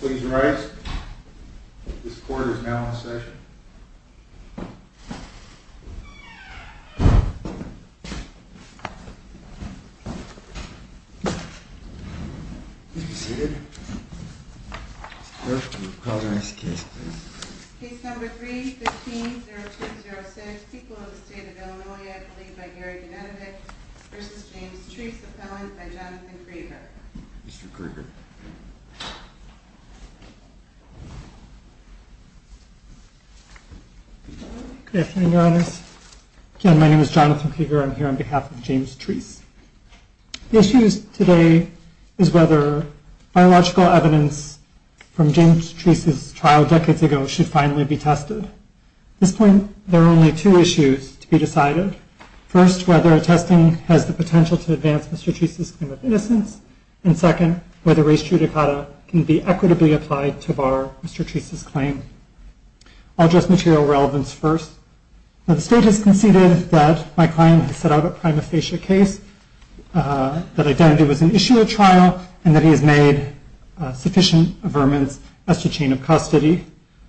Please rise. This court is now in session. Please be seated. Clerk, will you call the next case, please? Case number 3-15-0206, People of the State of Illinois, a plea by Gary Gennadyk v. James Treece, appellant by Jonathan Krieger. Mr. Krieger. Good afternoon, Your Honors. Again, my name is Jonathan Krieger. I'm here on behalf of James Treece. The issue today is whether biological evidence from James Treece's trial decades ago should finally be tested. At this point, there are only two issues to be decided. First, whether testing has the potential to advance Mr. Treece's claim of innocence, and second, whether res judicata can be equitably applied to bar Mr. Treece's claim. I'll address material relevance first. The state has conceded that my client has set out a prima facie case, that identity was an issue at trial, and that he has made sufficient affirmance as to chain of custody.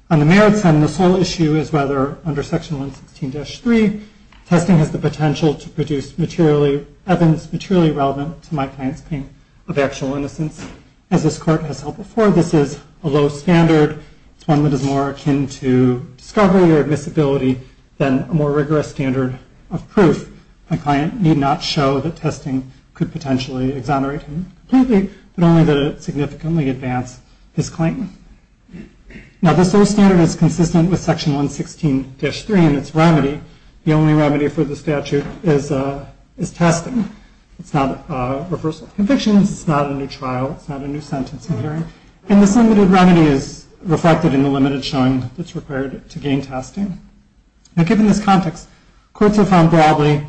On the merits end, the sole issue is whether, under Section 116-3, testing has the potential to produce evidence materially relevant to my client's claim of actual innocence. As this Court has held before, this is a low standard. It's one that is more akin to discovery or admissibility than a more rigorous standard of proof. My client need not show that testing could potentially exonerate him completely, but only that it significantly advance his claim. Now, this low standard is consistent with Section 116-3 and its remedy. The only remedy for the statute is testing. It's not a reversal of convictions. It's not a new trial. It's not a new sentencing hearing. And this limited remedy is reflected in the limited showing that's required to gain testing. Now, given this context, courts have found broadly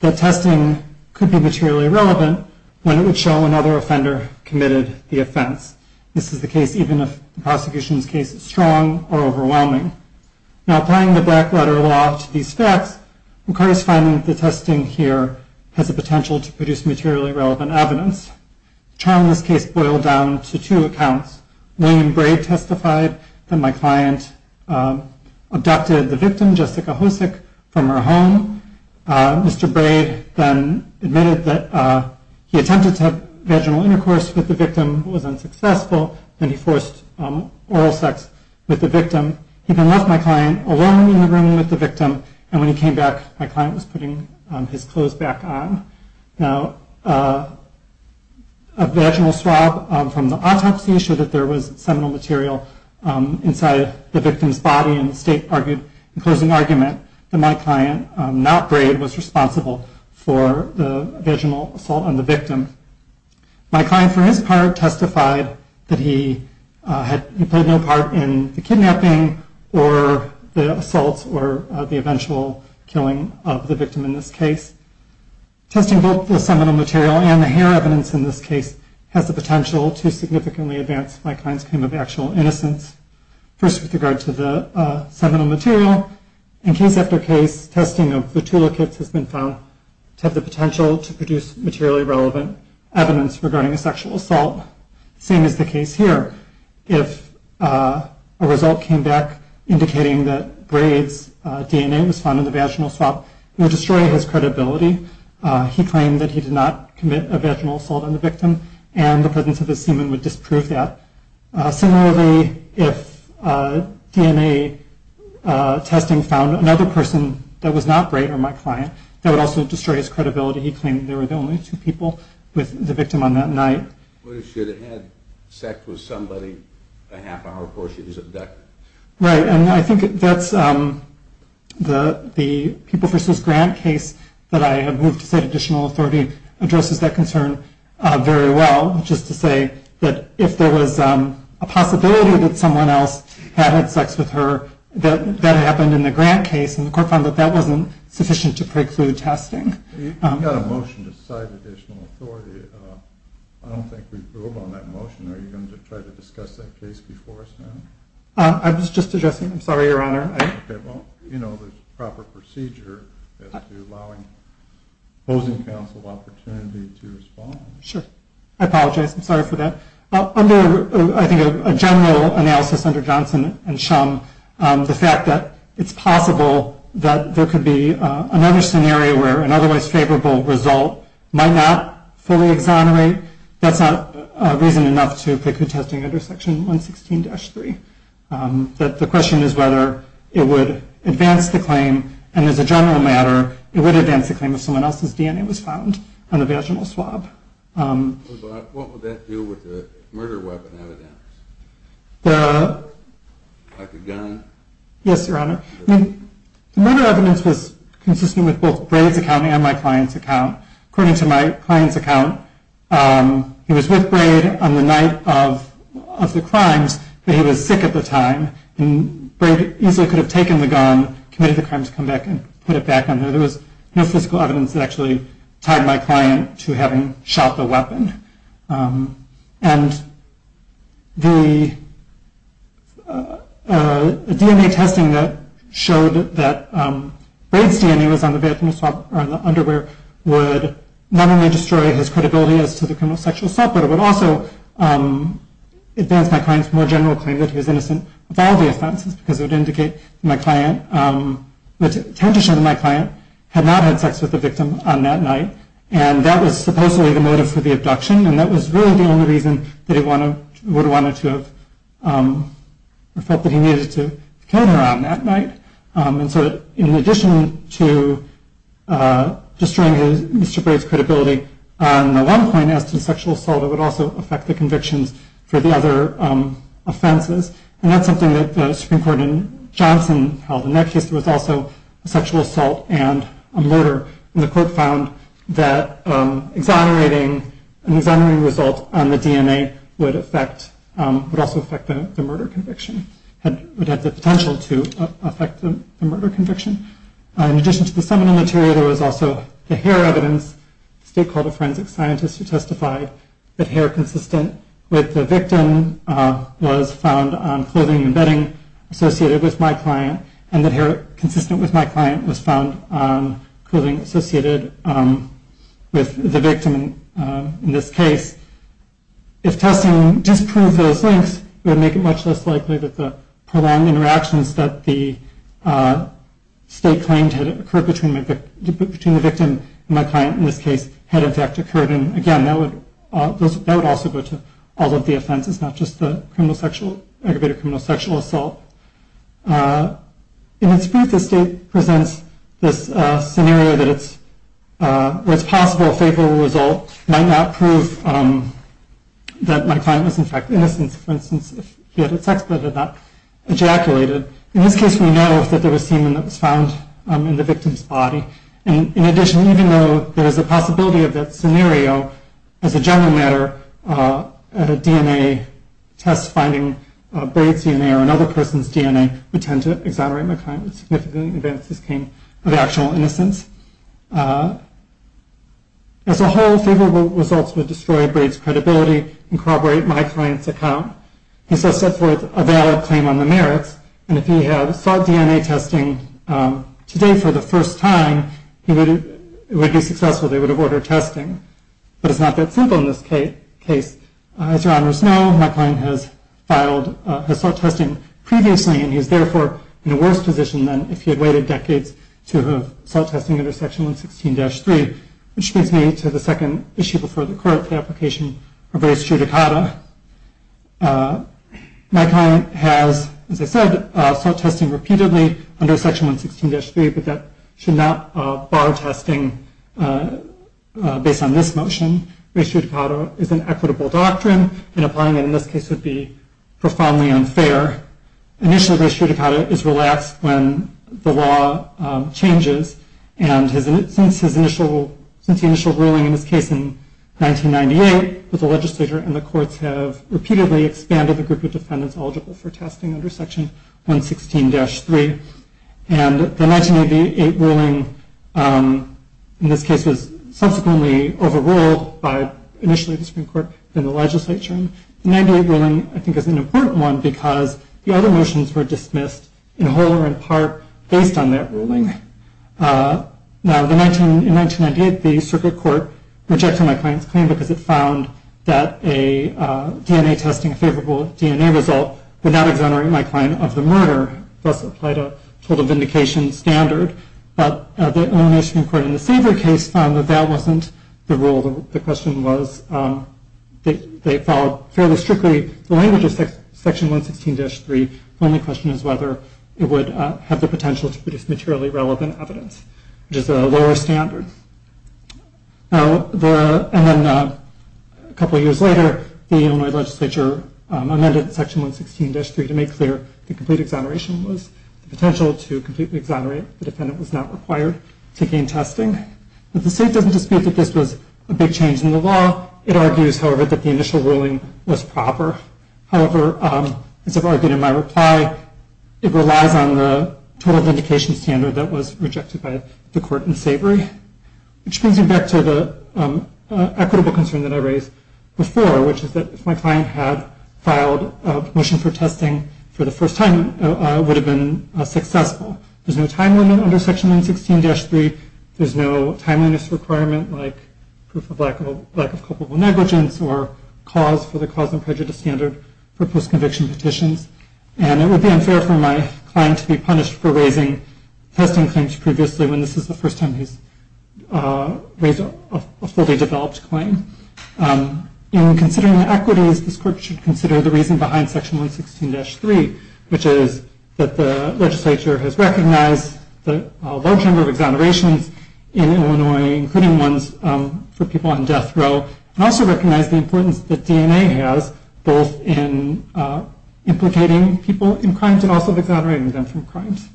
that testing could be materially relevant when it would show another offender committed the offense. This is the case even if the prosecution's case is strong or overwhelming. Now, applying the black-letter law to these facts, McCarty's finding that the testing here has the potential to produce materially relevant evidence. The trial in this case boiled down to two accounts. William Braid testified that my client abducted the victim, Jessica Hosick, from her home. Mr. Braid then admitted that he attempted to have vaginal intercourse with the victim, was unsuccessful, and he forced oral sex with the victim. He then left my client alone in the room with the victim, and when he came back, my client was putting his clothes back on. Now, a vaginal swab from the autopsy showed that there was seminal material inside the victim's body, and the state argued in closing argument that my client, not Braid, was responsible for the vaginal assault on the victim. My client, for his part, testified that he played no part in the kidnapping or the assault or the eventual killing of the victim in this case. Testing both the seminal material and the hair evidence in this case has the potential to significantly advance my client's claim of actual innocence. First, with regard to the seminal material, in case after case, testing of the two liquids has been found to have the potential to produce materially relevant evidence regarding a sexual assault, same as the case here. If a result came back indicating that Braid's DNA was found in the vaginal swab, it would destroy his credibility. He claimed that he did not commit a vaginal assault on the victim, and the presence of his semen would disprove that. Similarly, if DNA testing found another person that was not Braid or my client, that would also destroy his credibility. He claimed there were only two people with the victim on that night. What if she had had sex with somebody a half hour before she was abducted? Right, and I think that's the People v. Grant case that I have moved to set additional authority addresses that concern very well, which is to say that if there was a possibility that someone else had had sex with her, that that had happened in the Grant case, and the court found that that wasn't sufficient to preclude testing. You've got a motion to cite additional authority. I don't think we've moved on that motion. Are you going to try to discuss that case before us now? I was just addressing—I'm sorry, Your Honor. Okay, well, you know, there's a proper procedure as to allowing opposing counsel opportunity to respond. Sure. I apologize. I'm sorry for that. Under, I think, a general analysis under Johnson and Shum, the fact that it's possible that there could be another scenario where an otherwise favorable result might not fully exonerate, that's not reason enough to preclude testing under Section 116-3. The question is whether it would advance the claim, and as a general matter, it would advance the claim if someone else's DNA was found on the vaginal swab. What would that do with the murder weapon evidence, like a gun? Yes, Your Honor. The murder evidence was consistent with both Braid's account and my client's account. According to my client's account, he was with Braid on the night of the crimes, but he was sick at the time, and Braid easily could have taken the gun, committed the crime to come back and put it back on him. There was no physical evidence that actually tied my client to having shot the weapon. And the DNA testing that showed that Braid's DNA was on the vaginal swab or on the underwear would not only destroy his credibility as to the criminal sexual assault, but it would also advance my client's more general claim that he was innocent of all the offenses because it would indicate that my client had not had sex with the victim on that night. And that was supposedly the motive for the abduction, and that was really the only reason that he would have felt that he needed to kill her on that night. And so in addition to destroying Mr. Braid's credibility on the one point as to sexual assault, it would also affect the convictions for the other offenses. And that's something that the Supreme Court in Johnson held. In that case, there was also a sexual assault and a murder, and the court found that an exonerating result on the DNA would also affect the murder conviction, would have the potential to affect the murder conviction. In addition to the summoning material, there was also the hair evidence. The state called a forensic scientist who testified that hair consistent with the victim was found on clothing and bedding associated with my client, and that hair consistent with my client was found on clothing associated with the victim in this case. If testing disproved those links, it would make it much less likely that the prolonged interactions that the state claimed had occurred between the victim and my client in this case had in fact occurred. And again, that would also go to all of the offenses, not just the aggravated criminal sexual assault. In its brief, the state presents this scenario where it's possible a favorable result might not prove that my client was in fact innocent. For instance, if he had had sex but had not ejaculated. In this case, we know that there was semen that was found in the victim's body. And in addition, even though there is a possibility of that scenario as a general matter, a DNA test finding Braid's DNA or another person's DNA would tend to exonerate my client with significant advances of actual innocence. As a whole, favorable results would destroy Braid's credibility and corroborate my client's account. He's thus set forth a valid claim on the merits, and if he had sought DNA testing today for the first time, it would be successful. They would have ordered testing. But it's not that simple in this case. As your honors know, my client has filed assault testing previously, and he's therefore in a worse position than if he had waited decades to have assault testing under Section 116-3, which brings me to the second issue before the court for the application of Braid's true dakata. My client has, as I said, sought testing repeatedly under Section 116-3, but that should not bar testing based on this motion. Braid's true dakata is an equitable doctrine, and applying it in this case would be profoundly unfair. Initially, Braid's true dakata is relaxed when the law changes, and since his initial ruling in this case in 1998, the legislature and the courts have repeatedly expanded the group of defendants eligible for testing under Section 116-3. And the 1988 ruling in this case was subsequently overruled by initially the Supreme Court, then the legislature, and the 1998 ruling, I think, is an important one because the other motions were dismissed, in whole or in part, based on that ruling. Now, in 1998, the circuit court rejected my client's claim because it found that a DNA testing favorable DNA result would not exonerate my client of the murder, thus applied a total vindication standard. But the Illinois Supreme Court in the Savory case found that that wasn't the rule. The question was they followed fairly strictly the language of Section 116-3. The only question is whether it would have the potential to produce materially relevant evidence, which is a lower standard. Now, and then a couple years later, the Illinois legislature amended Section 116-3 to make clear the complete exoneration was the potential to completely exonerate. The defendant was not required to gain testing. The state doesn't dispute that this was a big change in the law. It argues, however, that the initial ruling was proper. However, as I've argued in my reply, it relies on the total vindication standard that was rejected by the court in Savory, which brings me back to the equitable concern that I raised before, which is that if my client had filed a motion for testing for the first time, it would have been successful. There's no time limit under Section 116-3. There's no timeliness requirement like proof of lack of culpable negligence or cause for the cause and prejudice standard for post-conviction petitions. And it would be unfair for my client to be punished for raising testing claims previously when this is the first time he's raised a fully developed claim. In considering equities, this court should consider the reason behind Section 116-3, which is that the legislature has recognized the large number of exonerations in Illinois, including ones for people on death row, and also recognize the importance that DNA has both in implicating people in crimes and also exonerating them from crimes.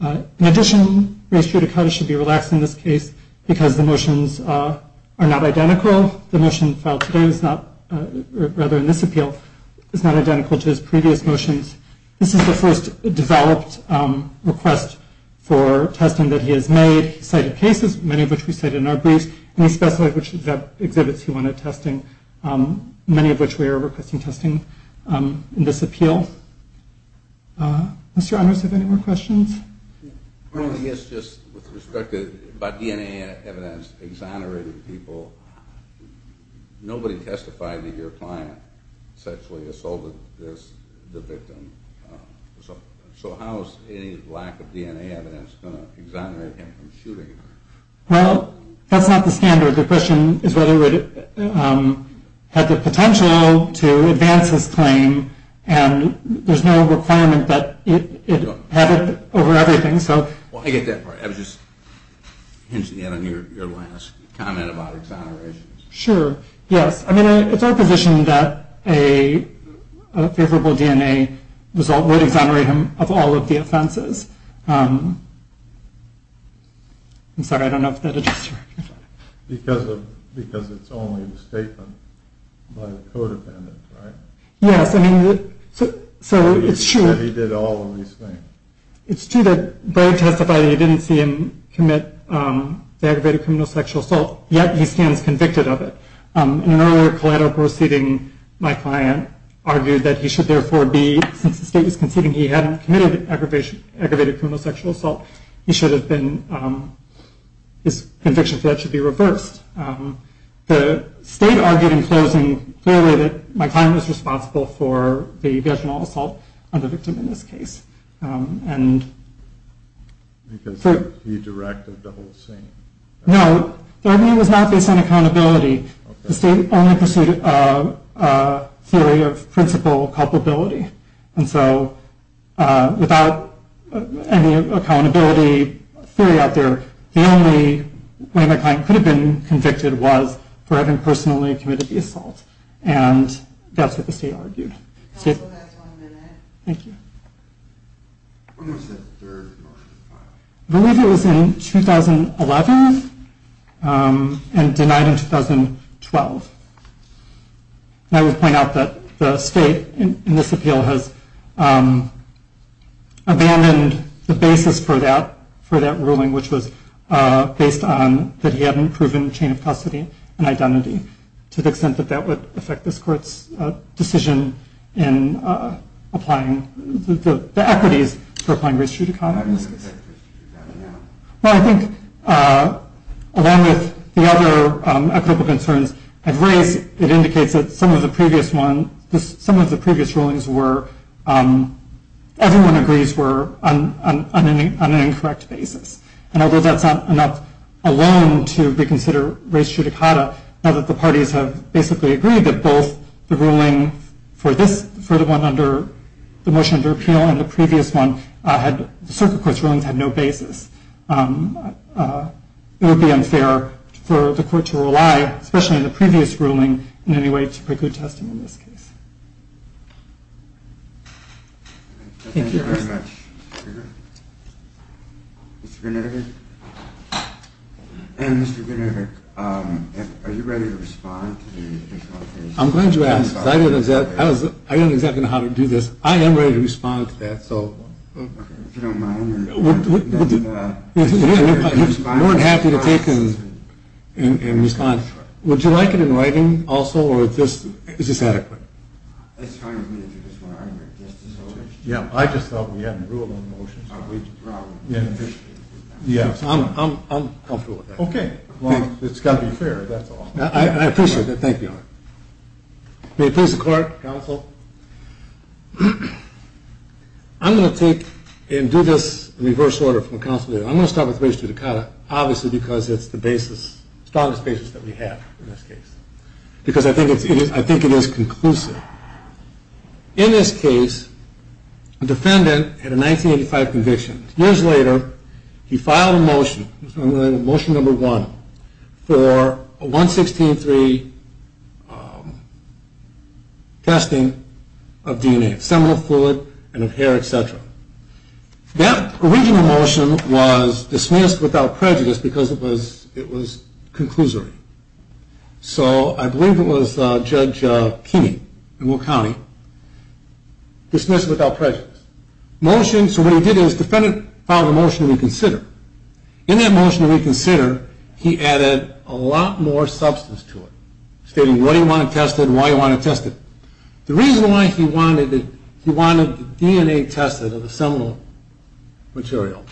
In addition, Ray Stradicata should be relaxed in this case because the motions are not identical. The motion filed today is not, rather in this appeal, is not identical to his previous motions. This is the first developed request for testing that he has made. He cited cases, many of which we cited in our briefs, and he specified which exhibits he wanted testing, many of which we are requesting testing in this appeal. Mr. Onrus, do you have any more questions? I guess just with respect to DNA evidence exonerating people, nobody testified that your client sexually assaulted the victim. So how is any lack of DNA evidence going to exonerate him from shooting? Well, that's not the standard. The question is whether it had the potential to advance his claim, and there's no requirement that it have it over everything. Well, I get that part. I was just hinting at it in your last comment about exonerations. Sure, yes. I mean, it's our position that a favorable DNA result would exonerate him of all of the offenses. I'm sorry, I don't know if that addressed your question. Because it's only the statement by the codependent, right? Yes, I mean, so it's true. That he did all of these things. It's true that Bragg testified that he didn't see him commit the aggravated criminal sexual assault, yet he stands convicted of it. In an earlier collateral proceeding, my client argued that he should therefore be, since the state was conceding he hadn't committed aggravated criminal sexual assault, he should have been, his conviction for that should be reversed. The state argued in closing, clearly, that my client was responsible for the vaginal assault on the victim in this case. Because he directed the whole scene. No, the argument was not based on accountability. The state only pursued a theory of principal culpability. And so without any accountability theory out there, the only way my client could have been convicted was for having personally committed the assault. And that's what the state argued. Counsel, that's one minute. Thank you. When was that third motion filed? I believe it was in 2011 and denied in 2012. And I would point out that the state in this appeal has abandoned the basis for that, for that ruling which was based on that he hadn't proven chain of custody and identity to the extent that that would affect this court's decision in applying the equities for applying race judicata. Well, I think along with the other concerns I've raised, it indicates that some of the previous ones, some of the previous rulings were, everyone agrees were on an incorrect basis. And although that's not enough alone to consider race judicata, now that the parties have basically agreed that both the ruling for this, for the one under the motion of their appeal and the previous one had, the circuit court's rulings had no basis, it would be unfair for the court to rely, especially in the previous ruling in any way to preclude testing in this case. Thank you very much. Mr. Greenberg. And Mr. Greenberg, are you ready to respond? I'm glad you asked. I don't exactly know how to do this. I am ready to respond to that, so. If you don't mind. We're happy to take and respond. Would you like it in writing also or is this adequate? It's fine with me if you just want to argue it just as a motion. Yeah, I just thought we had a rule in motion. Yeah, I'm comfortable with that. Okay, well, it's got to be fair, that's all. I appreciate that. Thank you. May it please the court, counsel. I'm going to take and do this in reverse order from counsel. I'm going to start with Register Dikata, obviously because it's the basis, strongest basis that we have in this case, because I think it is conclusive. In this case, the defendant had a 1985 conviction. Years later, he filed a motion. Motion number one for 116.3 testing of DNA, seminal fluid, and of hair, et cetera. That original motion was dismissed without prejudice because it was conclusory. So I believe it was Judge Keeney in Will County dismissed without prejudice. So what he did is the defendant filed a motion to reconsider. In that motion to reconsider, he added a lot more substance to it, stating what he wanted tested and why he wanted tested. The reason why he wanted DNA tested of the seminal material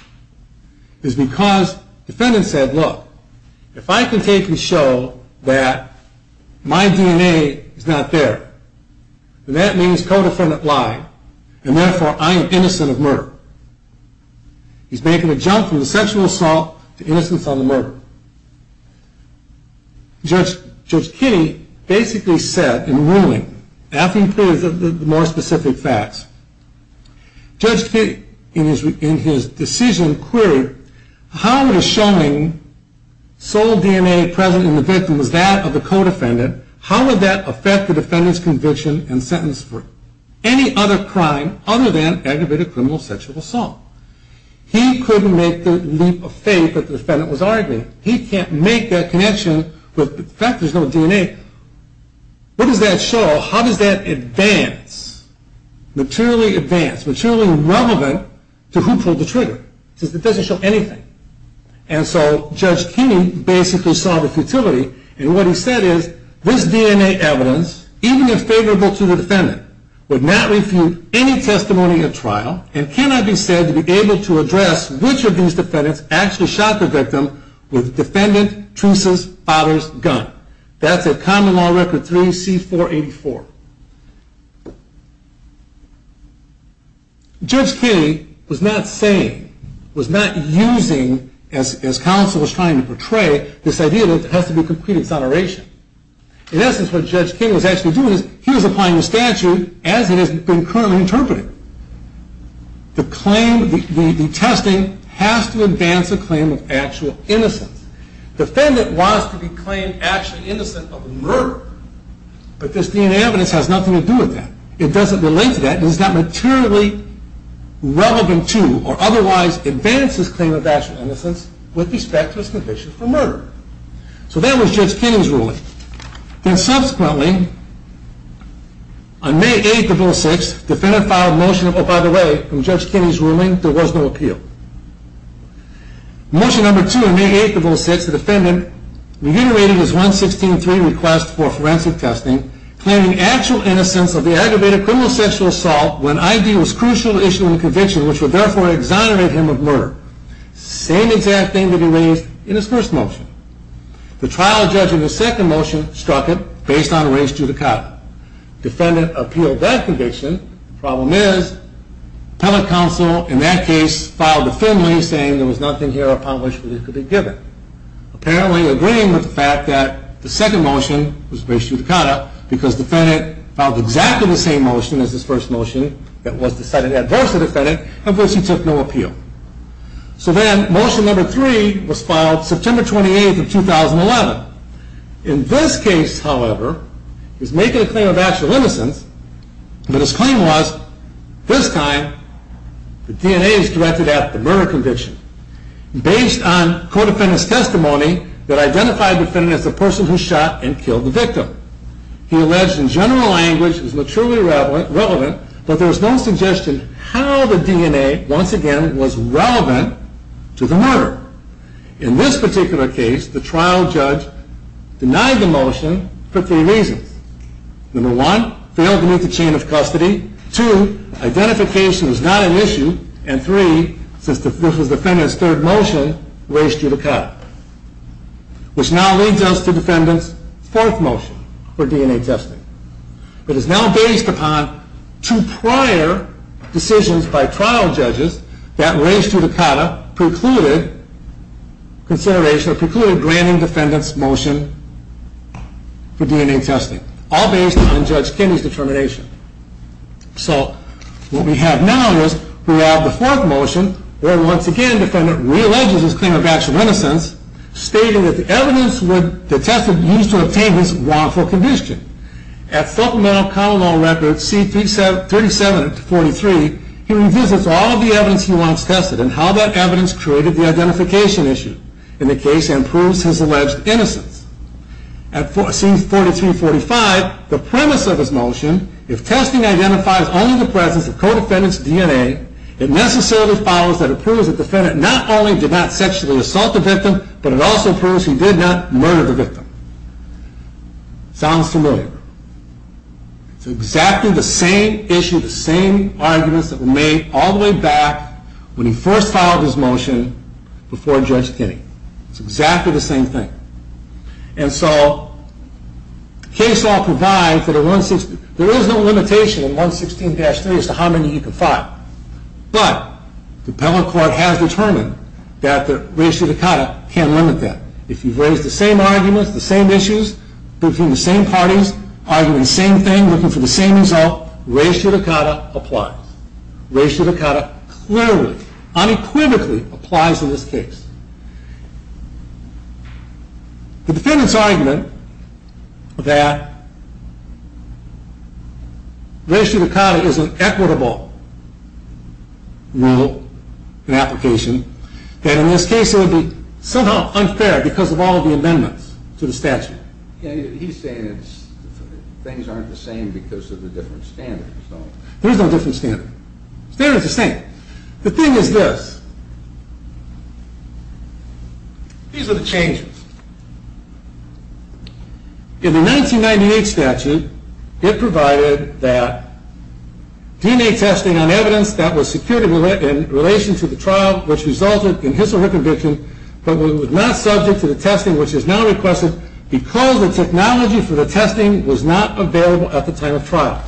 is because the defendant said, look, if I can take and show that my DNA is not there, that means co-defendant lied, and therefore I am innocent of murder. He's making a jump from the sexual assault to innocence on the murder. Judge Keeney basically said in ruling, after he included the more specific facts, Judge Keeney, in his decision query, how would a showing sole DNA present in the victim was that of the co-defendant, how would that affect the defendant's conviction and sentence for any other crime other than aggravated criminal sexual assault? He couldn't make the leap of faith that the defendant was arguing. He can't make that connection with the fact there's no DNA. What does that show? How does that advance, materially advance, materially relevant to who pulled the trigger? It doesn't show anything. And so Judge Keeney basically saw the futility, and what he said is this DNA evidence, even if favorable to the defendant, would not refute any testimony at trial and cannot be said to be able to address which of these defendants actually shot the victim with the defendant's, truce's, father's gun. That's at Common Law Record 3C484. Judge Keeney was not saying, was not using, as counsel was trying to portray, this idea that there has to be complete exoneration. In essence, what Judge Keeney was actually doing is he was applying the statute as it has been currently interpreted. The claim, the testing, has to advance a claim of actual innocence. Defendant wants to be claimed actually innocent of murder, but this DNA evidence has nothing to do with that. It doesn't relate to that, and it's not materially relevant to or otherwise advance his claim of actual innocence with respect to his conviction for murder. So that was Judge Keeney's ruling. Then subsequently, on May 8th of 2006, the defendant filed a motion, oh, by the way, from Judge Keeney's ruling, there was no appeal. Motion number two on May 8th of 2006, the defendant reiterated his 116.3 request for forensic testing, claiming actual innocence of the aggravated criminal sexual assault when ID was crucial to issuing a conviction, which would therefore exonerate him of murder. Same exact thing that he raised in his first motion. The trial judge in his second motion struck it based on race judicata. Defendant appealed that conviction. The problem is appellate counsel in that case filed a family, saying there was nothing here upon which it could be given, apparently agreeing with the fact that the second motion was race judicata because the defendant filed exactly the same motion as his first motion that was decided adverse to the defendant, of which he took no appeal. So then motion number three was filed September 28th of 2011. In this case, however, he's making a claim of actual innocence, but his claim was this time the DNA is directed at the murder conviction. Based on co-defendant's testimony, that identified the defendant as the person who shot and killed the victim. He alleged in general language it was maturely relevant, but there was no suggestion how the DNA, once again, was relevant to the murder. In this particular case, the trial judge denied the motion for three reasons. Number one, failed to meet the chain of custody. Two, identification was not an issue. And three, since this was defendant's third motion, race judicata, which now leads us to defendant's fourth motion for DNA testing. It is now based upon two prior decisions by trial judges that race judicata precluded consideration, or precluded granting defendant's motion for DNA testing, all based on Judge Kinney's determination. So, what we have now is we have the fourth motion, where once again defendant re-alleges his claim of actual innocence, stating that the evidence would, the test would be used to obtain his wrongful conviction. At supplemental common law record C3743, he revisits all of the evidence he once tested and how that evidence created the identification issue in the case and proves his alleged innocence. At C4345, the premise of his motion, if testing identifies only the presence of co-defendant's DNA, it necessarily follows that it proves the defendant not only did not sexually assault the victim, but it also proves he did not murder the victim. Sounds familiar. It's exactly the same issue, the same arguments that were made all the way back when he first filed his motion before Judge Kinney. It's exactly the same thing. And so, case law provides that a 116, there is no limitation in 116-3 as to how many you can file, but the appellate court has determined that the res judicata can't limit that. If you've raised the same arguments, the same issues, between the same parties, arguing the same thing, looking for the same result, res judicata applies. Res judicata clearly, unequivocally applies in this case. The defendant's argument that res judicata is an equitable rule and application, that in this case it would be somehow unfair because of all the amendments to the statute. He's saying things aren't the same because of the different standards. There is no different standard. Standards are the same. The thing is this. These are the changes. In the 1998 statute, it provided that DNA testing on evidence that was secured in relation to the trial, which resulted in his or her conviction, but was not subject to the testing which is now requested, because the technology for the testing was not available at the time of trial.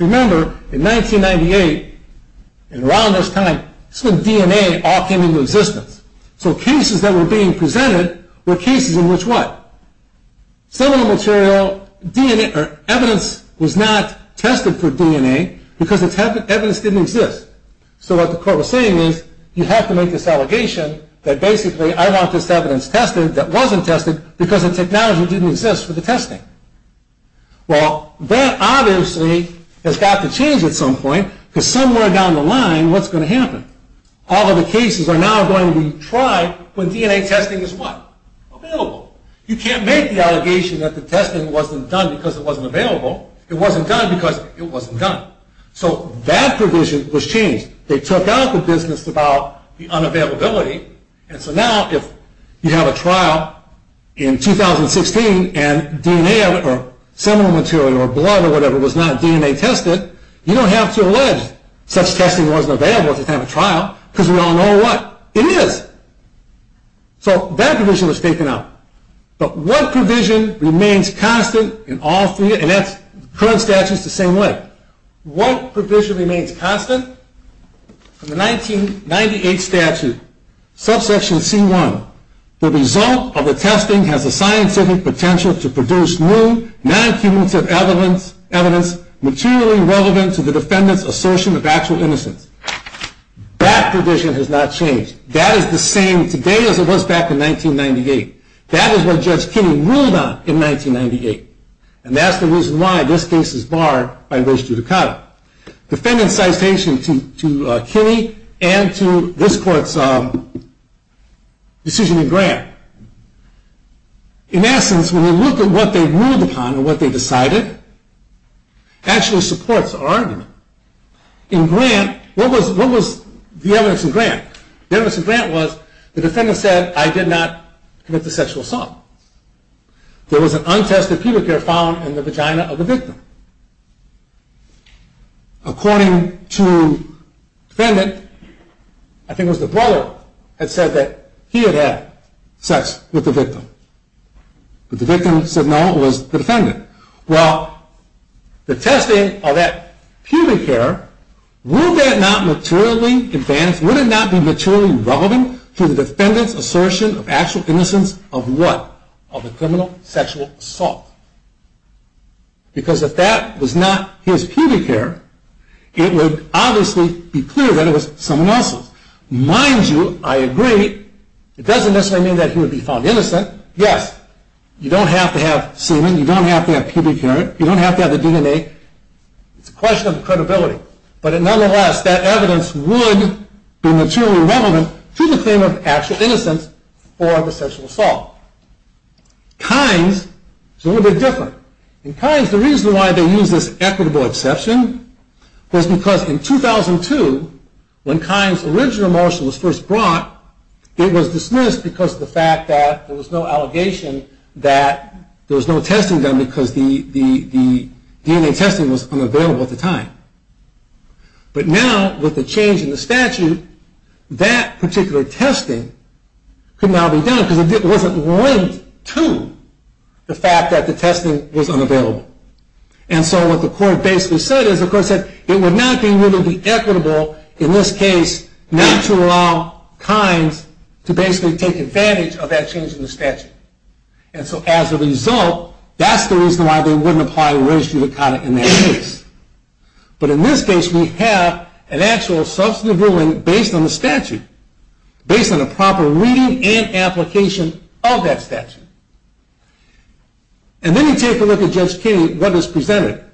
Remember, in 1998 and around this time, DNA all came into existence. So cases that were being presented were cases in which what? Some of the material, evidence was not tested for DNA because the evidence didn't exist. So what the court was saying is you have to make this allegation that basically I want this evidence tested that wasn't tested because the technology didn't exist for the testing. Well, that obviously has got to change at some point because somewhere down the line, what's going to happen? All of the cases are now going to be tried when DNA testing is what? Available. You can't make the allegation that the testing wasn't done because it wasn't available. It wasn't done because it wasn't done. So that provision was changed. They took out the business about the unavailability, and so now if you have a trial in 2016 and DNA or seminal material or blood or whatever was not DNA tested, you don't have to allege such testing wasn't available at the time of trial because we all know what? It is. So that provision was taken out. But what provision remains constant in all three? And that's current statutes the same way. What provision remains constant? The 1998 statute, subsection C1, the result of the testing has a scientific potential to produce new non-cumulative evidence materially relevant to the defendant's assertion of actual innocence. That provision has not changed. That is the same today as it was back in 1998. That is what Judge Kinney ruled on in 1998, and that's the reason why this case is barred by race judicata. Defendant's citation to Kinney and to this court's decision in Grant. In essence, when you look at what they ruled upon and what they decided actually supports our argument. In Grant, what was the evidence in Grant? The evidence in Grant was the defendant said, I did not commit the sexual assault. There was an untested pubic hair found in the vagina of the victim. According to defendant, I think it was the brother had said that he had had sex with the victim. But the victim said no, it was the defendant. Well, the testing of that pubic hair, would that not be materially relevant to the defendant's assertion of actual innocence of what? Of a criminal sexual assault. Because if that was not his pubic hair, it would obviously be clear that it was someone else's. Mind you, I agree, it doesn't necessarily mean that he would be found innocent. Yes, you don't have to have semen, you don't have to have pubic hair, you don't have to have the DNA. It's a question of credibility. But nonetheless, that evidence would be materially relevant to the claim of actual innocence for the sexual assault. Kynes is a little bit different. In Kynes, the reason why they use this equitable exception was because in 2002, when Kynes' original marshal was first brought, it was dismissed because of the fact that there was no allegation that there was no testing done because the DNA testing was unavailable at the time. But now, with the change in the statute, that particular testing could now be done because it wasn't linked to the fact that the testing was unavailable. And so what the court basically said is, the court said it would not be equitable, in this case, not to allow Kynes to basically take advantage of that change in the statute. And so as a result, that's the reason why they wouldn't apply registry of the conduct in that case. But in this case, we have an actual substantive ruling based on the statute, based on a proper reading and application of that statute. And then you take a look at Judge Kinney, what is presented.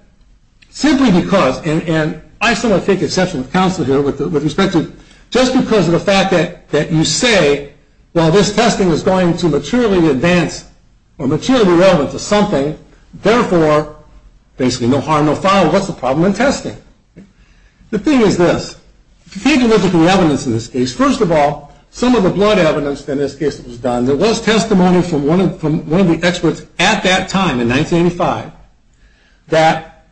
Simply because, and I somewhat take exception of counsel here with respect to, just because of the fact that you say, well, this testing is going to materially advance or materially relevant to something, therefore, basically no harm, no foul, what's the problem in testing? The thing is this. If you take a look at the evidence in this case, first of all, some of the blood evidence in this case that was done, there was testimony from one of the experts at that time, in 1985, that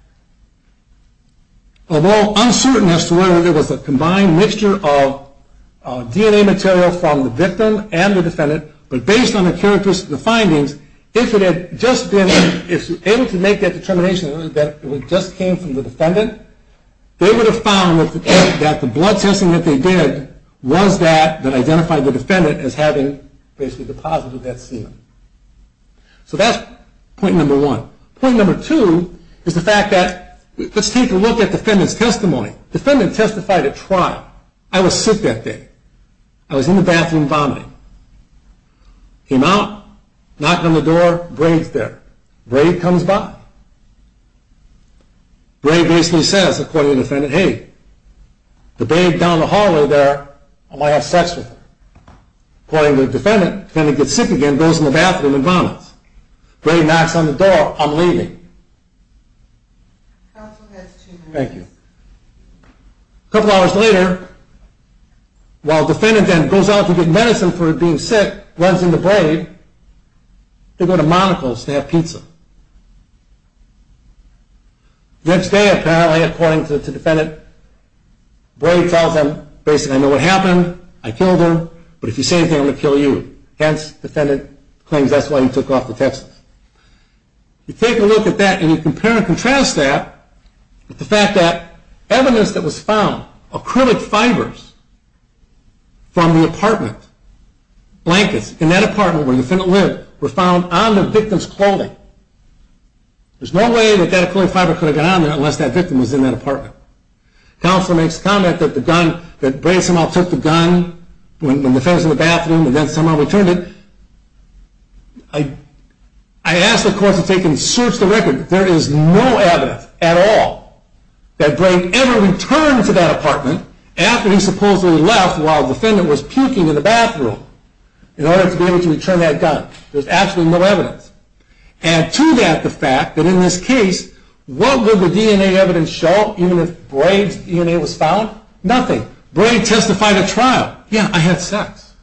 although uncertain as to whether there was a combined mixture of DNA material from the victim and the defendant, but based on the characteristics of the findings, if it had just been able to make that determination that it just came from the defendant, they would have found that the blood testing that they did was that that identified the defendant as having basically the positive death scene. So that's point number one. Point number two is the fact that, let's take a look at defendant's testimony. Defendant testified at trial. I was sick that day. I was in the bathroom vomiting. Came out, knocked on the door, Brave's there. Brave comes by. Brave basically says, according to the defendant, hey, the brave down the hallway there, I might have sex with her. According to the defendant, defendant gets sick again, goes in the bathroom and vomits. Brave knocks on the door, I'm leaving. Thank you. A couple hours later, while defendant then goes out to get medicine for being sick, defendant runs into Brave to go to Monocle's to have pizza. The next day, apparently, according to defendant, Brave tells him, basically, I know what happened. I killed her, but if you say anything, I'm going to kill you. Hence, defendant claims that's why he took off to Texas. You take a look at that and you compare and contrast that with the fact that evidence that was found, acrylic fibers from the apartment, blankets, in that apartment where the defendant lived, were found on the victim's clothing. There's no way that that acrylic fiber could have gotten on there unless that victim was in that apartment. Counselor makes the comment that Brave somehow took the gun, went in the bathroom and then somehow returned it. I asked the courts if they can search the record. There is no evidence at all that Brave ever returned to that apartment after he supposedly left while defendant was puking in the bathroom in order to be able to return that gun. There's absolutely no evidence. Add to that the fact that in this case, what would the DNA evidence show, even if Brave's DNA was found? Nothing. Brave testified at trial. Yeah, I had sex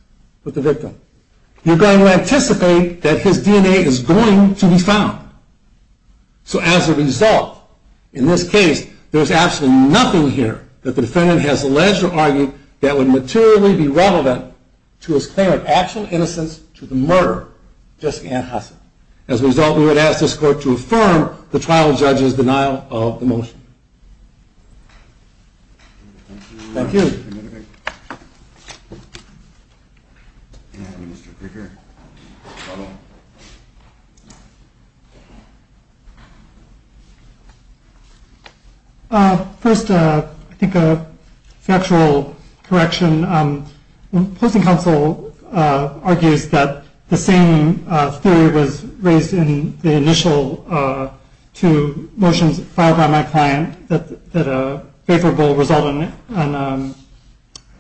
with the victim. You're going to anticipate that his DNA is going to be found. So as a result, in this case, there's absolutely nothing here that the defendant has alleged or argued that would materially be relevant to his claim of actual innocence to the murder of Jessica Ann Husson. As a result, we would ask this court to affirm the trial judge's denial of the motion. Thank you. Thank you, Mr. Krueger. First, I think a factual correction. The opposing counsel argues that the same theory was raised in the initial two motions filed by my client that a favorable result on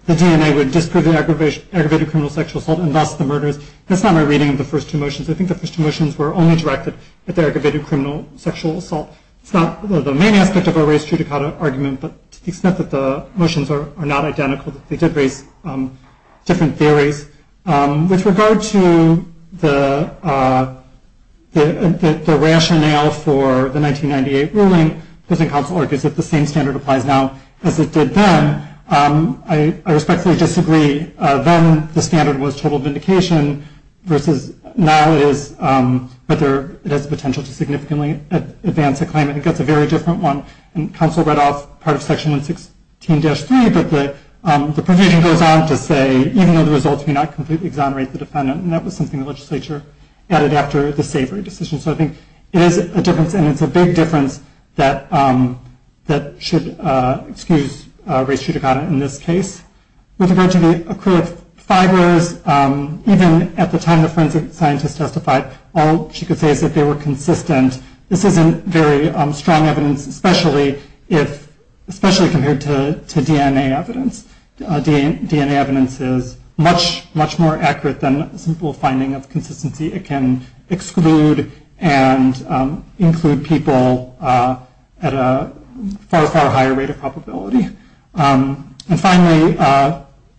the DNA would disprove the aggravated criminal sexual assault and thus the murders. That's not my reading of the first two motions. I think the first two motions were only directed at the aggravated criminal sexual assault. It's not the main aspect of our race judicata argument, but to the extent that the motions are not identical, they did raise different theories. With regard to the rationale for the 1998 ruling, opposing counsel argues that the same standard applies now as it did then. I respectfully disagree. Then the standard was total vindication, versus now it has the potential to significantly advance a claim. I think that's a very different one. Counsel read off part of section 116-3, but the provision goes on to say, even though the results may not completely exonerate the defendant, and that was something the legislature added after the Savory decision. So I think it is a difference, and it's a big difference, that should excuse race judicata in this case. With regard to the accrued fibers, even at the time the forensic scientist testified, all she could say is that they were consistent. This isn't very strong evidence, especially compared to DNA evidence. DNA evidence is much, much more accurate than a simple finding of consistency. It can exclude and include people at a far, far higher rate of probability. And finally,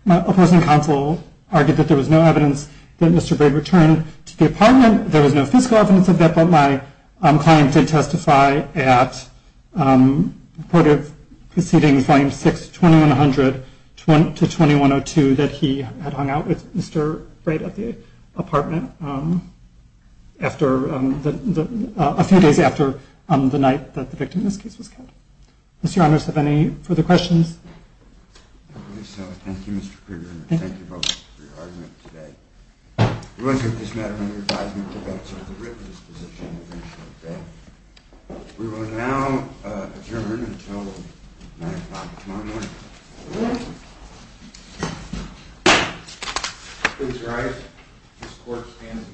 my opposing counsel argued that there was no evidence that Mr. Braid returned to the apartment. There was no fiscal evidence of that, but my client did testify at a court of proceedings, volume 6, 2100-2102, that he had hung out with Mr. Braid at the apartment a few days after the night that the victim in this case was killed. Mr. Honors, do you have any further questions? I believe so. Thank you, Mr. Kruger, and thank you both for your argument today. We will leave this matter under advisement to the defense of the witness position. We will now adjourn until 9 o'clock tomorrow morning. Good morning. Please rise. This court is adjourned until recess.